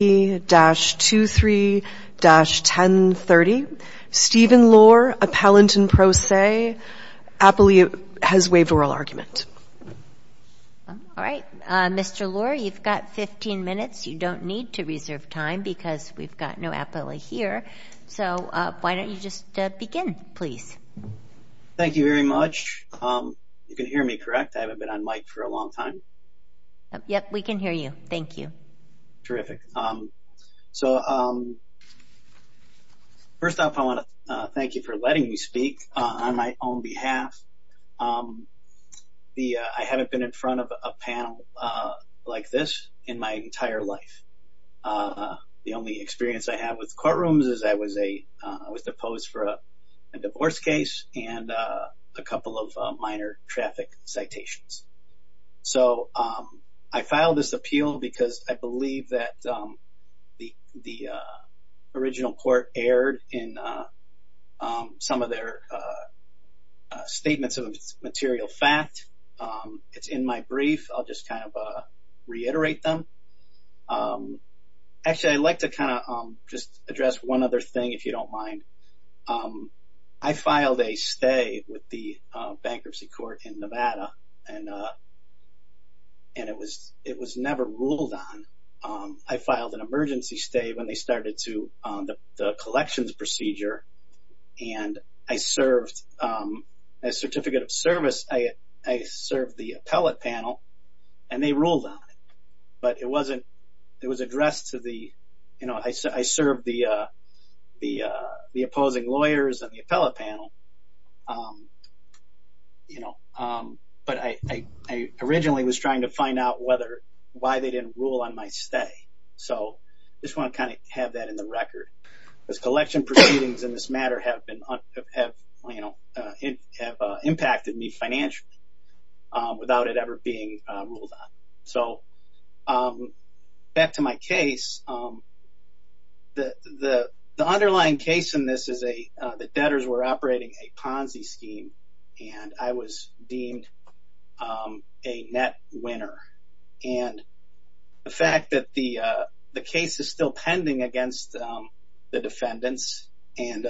23-1030. Stephen Lohr, Appellant and Pro Se. Appley has waived oral argument. All right. Mr. Lohr, you've got 15 minutes. You don't need to reserve time because we've got no appellate here. So why don't you just begin, please? Thank you very much. You can hear me, correct? I haven't been on mic for a long time. Yep, we can hear you. Thank you. Terrific. So first off, I want to thank you for letting me speak on my own behalf. I haven't been in front of a panel like this in my entire life. The only experience I have with courtrooms is I was deposed for a divorce case and a couple of minor traffic citations. So I filed this appeal because I believe that the original court erred in some of their statements of material fact. It's in my brief. I'll just kind of reiterate them. Actually, I'd like to kind of just address one other thing, if you don't mind. I filed a stay with the bankruptcy court in Nevada, and it was never ruled on. I filed an emergency stay when they started the collections procedure, and as Certificate of Service, I served the appellate panel, and they ruled on it. But it was addressed to the—I served the opposing lawyers on the appellate panel, but I originally was trying to find out why they didn't rule on my stay. So I just want to kind of have that in the record. Those collection proceedings in this matter have impacted me financially without it ever being ruled on. So back to my case, the underlying case in this is that debtors were operating a Ponzi scheme, and I was deemed a net winner. And the fact that the case is still pending against the defendants, and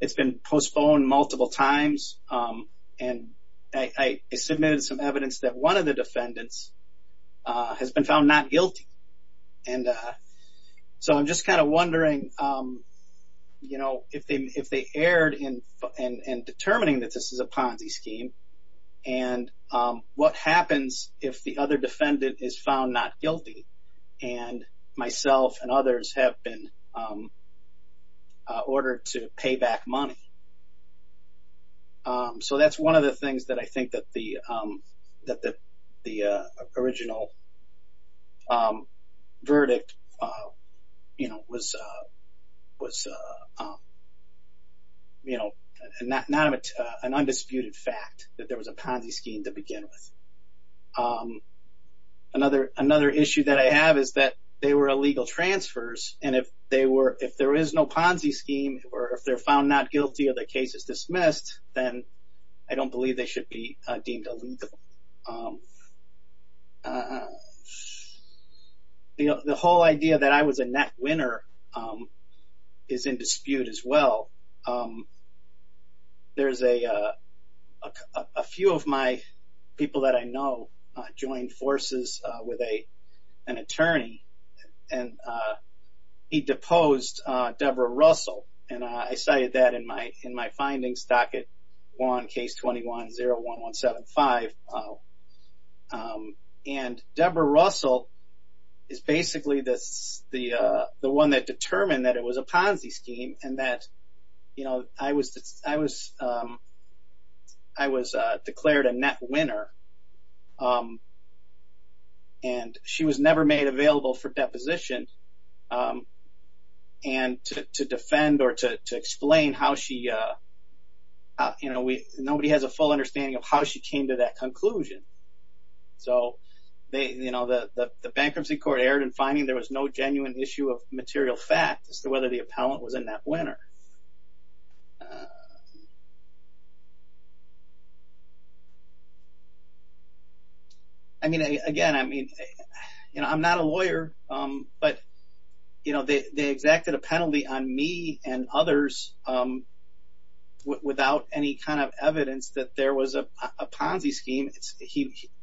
it's been postponed multiple times, and I submitted some evidence that one of the defendants has been found not guilty. And so I'm just kind of wondering, you know, if they erred in determining that this is a Ponzi scheme, and what happens if the other defendant is found not guilty, and myself and others have been ordered to pay back money? So that's one of the things that I think that the original verdict, you know, was, you know, an undisputed fact that there was a Ponzi scheme to begin with. Another issue that I have is that they were illegal transfers, and if there is no Ponzi scheme or if they're found not guilty or the case is dismissed, then I don't believe they should be deemed illegal. The whole idea that I was a net winner is in dispute as well. There's a few of my people that I know joined forces with an attorney, and he deposed Deborah Russell, and I cited that in my findings, docket 1, case 21-01-175. And Deborah Russell is basically the one that determined that it was a Ponzi scheme, and that, you know, I was declared a net winner, and she was never made available for deposition, and to defend or to explain how she, you know, nobody has a full understanding of how she came to that conclusion. So, you know, the bankruptcy court erred in finding there was no genuine issue of material fact as to whether the appellant was a net winner. I mean, again, I mean, you know, I'm not a lawyer, but, you know, they exacted a penalty on me and others without any kind of evidence that there was a Ponzi scheme.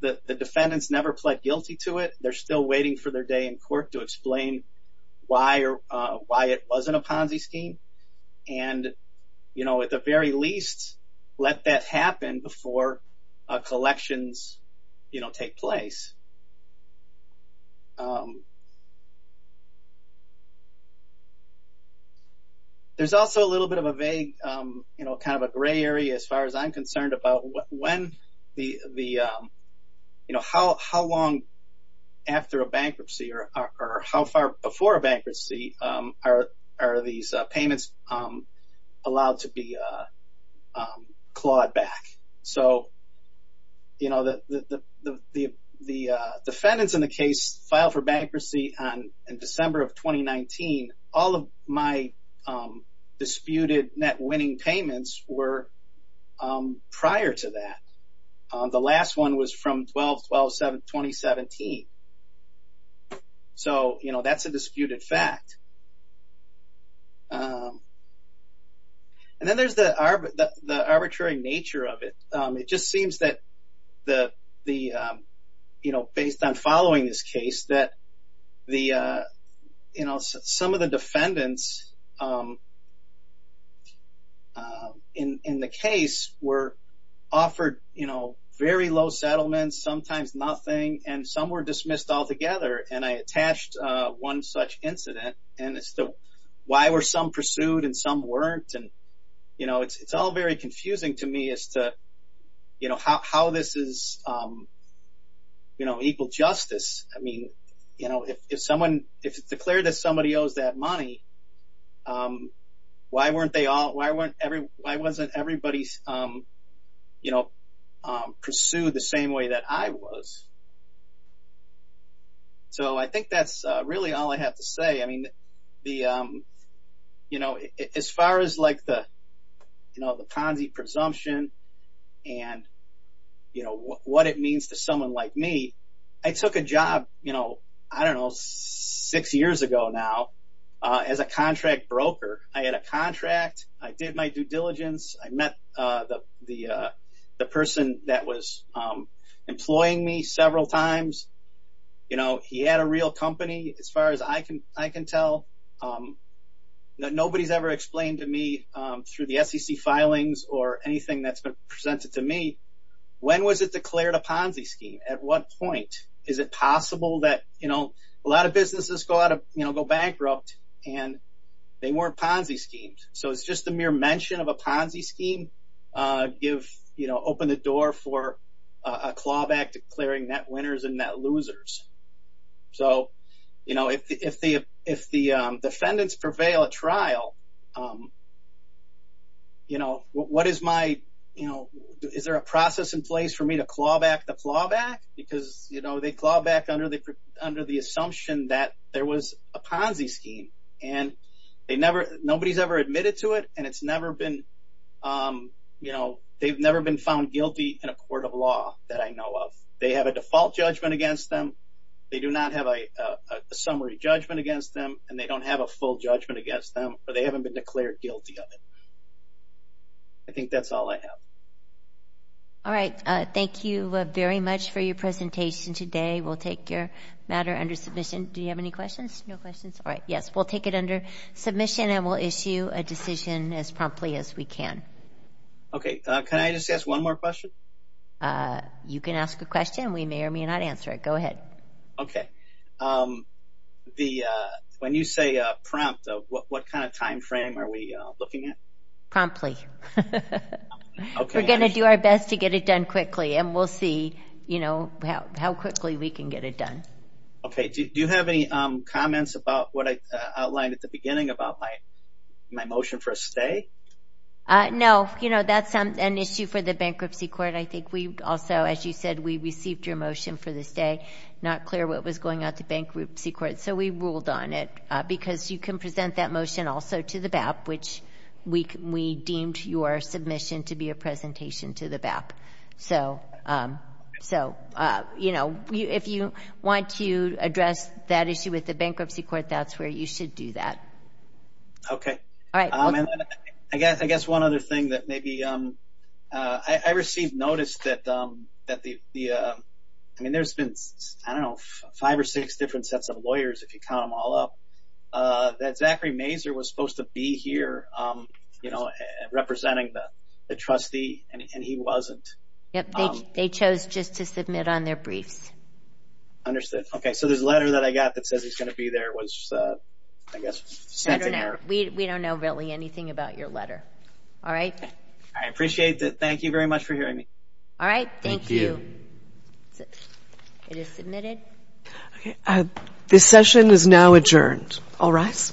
The defendants never pled guilty to it. They're still waiting for their day in court to explain why it wasn't a Ponzi scheme, and, you know, at the very least, let that happen before collections, you know, take place. There's also a little bit of a vague, you know, kind of a gray area as far as I'm concerned about when the, you know, how long after a bankruptcy or how far before a bankruptcy are these payments allowed to be clawed back. So, you know, the defendants in the case filed for bankruptcy in December of 2019. All of my disputed net winning payments were prior to that. The last one was from 12-12-2017. So, you know, that's a disputed fact. And then there's the arbitrary nature of it. It just seems that the, you know, based on following this case, that the, you know, some of the defendants in the case were offered, you know, very low settlements, sometimes nothing, and some were dismissed altogether. And I attached one such incident, and it's the why were some pursued and some weren't. And, you know, it's all very confusing to me as to, you know, how this is, you know, equal justice. I mean, you know, if someone, if it's declared that somebody owes that money, why weren't they all, why wasn't everybody, you know, pursued the same way that I was? So, I think that's really all I have to say. I mean, you know, as far as, like, the Ponzi presumption and, you know, what it means to someone like me, I took a job, you know, I don't know, six years ago now as a contract broker. I had a contract. I did my due diligence. I met the person that was employing me several times. You know, he had a real company, as far as I can tell. Nobody's ever explained to me through the SEC filings or anything that's been presented to me, when was it declared a Ponzi scheme? At what point? Is it possible that, you know, a lot of businesses go out of, you know, go bankrupt, and they weren't Ponzi schemes? So, it's just the mere mention of a Ponzi scheme give, you know, open the door for a clawback declaring net winners and net losers. So, you know, if the defendants prevail at trial, you know, what is my, you know, is there a process in place for me to clawback the clawback? Because, you know, they clawback under the assumption that there was a Ponzi scheme, and nobody's ever admitted to it, and it's never been, you know, they've never been found guilty in a court of law that I know of. They have a default judgment against them. They do not have a summary judgment against them, and they don't have a full judgment against them, or they haven't been declared guilty of it. I think that's all I have. All right. Thank you very much for your presentation today. We'll take your matter under submission. Do you have any questions? No questions? All right. Yes, we'll take it under submission, and we'll issue a decision as promptly as we can. Okay. Can I just ask one more question? You can ask a question. We may or may not answer it. Go ahead. Okay. When you say prompt, what kind of time frame are we looking at? Promptly. We're going to do our best to get it done quickly, and we'll see, you know, how quickly we can get it done. Okay. Do you have any comments about what I outlined at the beginning about my motion for a stay? No. You know, that's an issue for the Bankruptcy Court. I think we also, as you said, we received your motion for the stay, not clear what was going out to Bankruptcy Court, so we ruled on it, because you can present that motion also to the BAP, which we deemed your submission to be a presentation to the BAP. So, you know, if you want to address that issue with the Bankruptcy Court, that's where you should do that. Okay. All right. I guess one other thing that maybe I received notice that the, I mean, there's been, I don't know, five or six different sets of lawyers, if you count them all up, that Zachary Mazur was supposed to be here, representing the trustee, and he wasn't. They chose just to submit on their briefs. Understood. Okay. So this letter that I got that says he's going to be there was, I guess, sent to her. We don't know really anything about your letter. All right. I appreciate that. Thank you very much for hearing me. All right. Thank you. It is submitted. Okay. This session is now adjourned. All rise.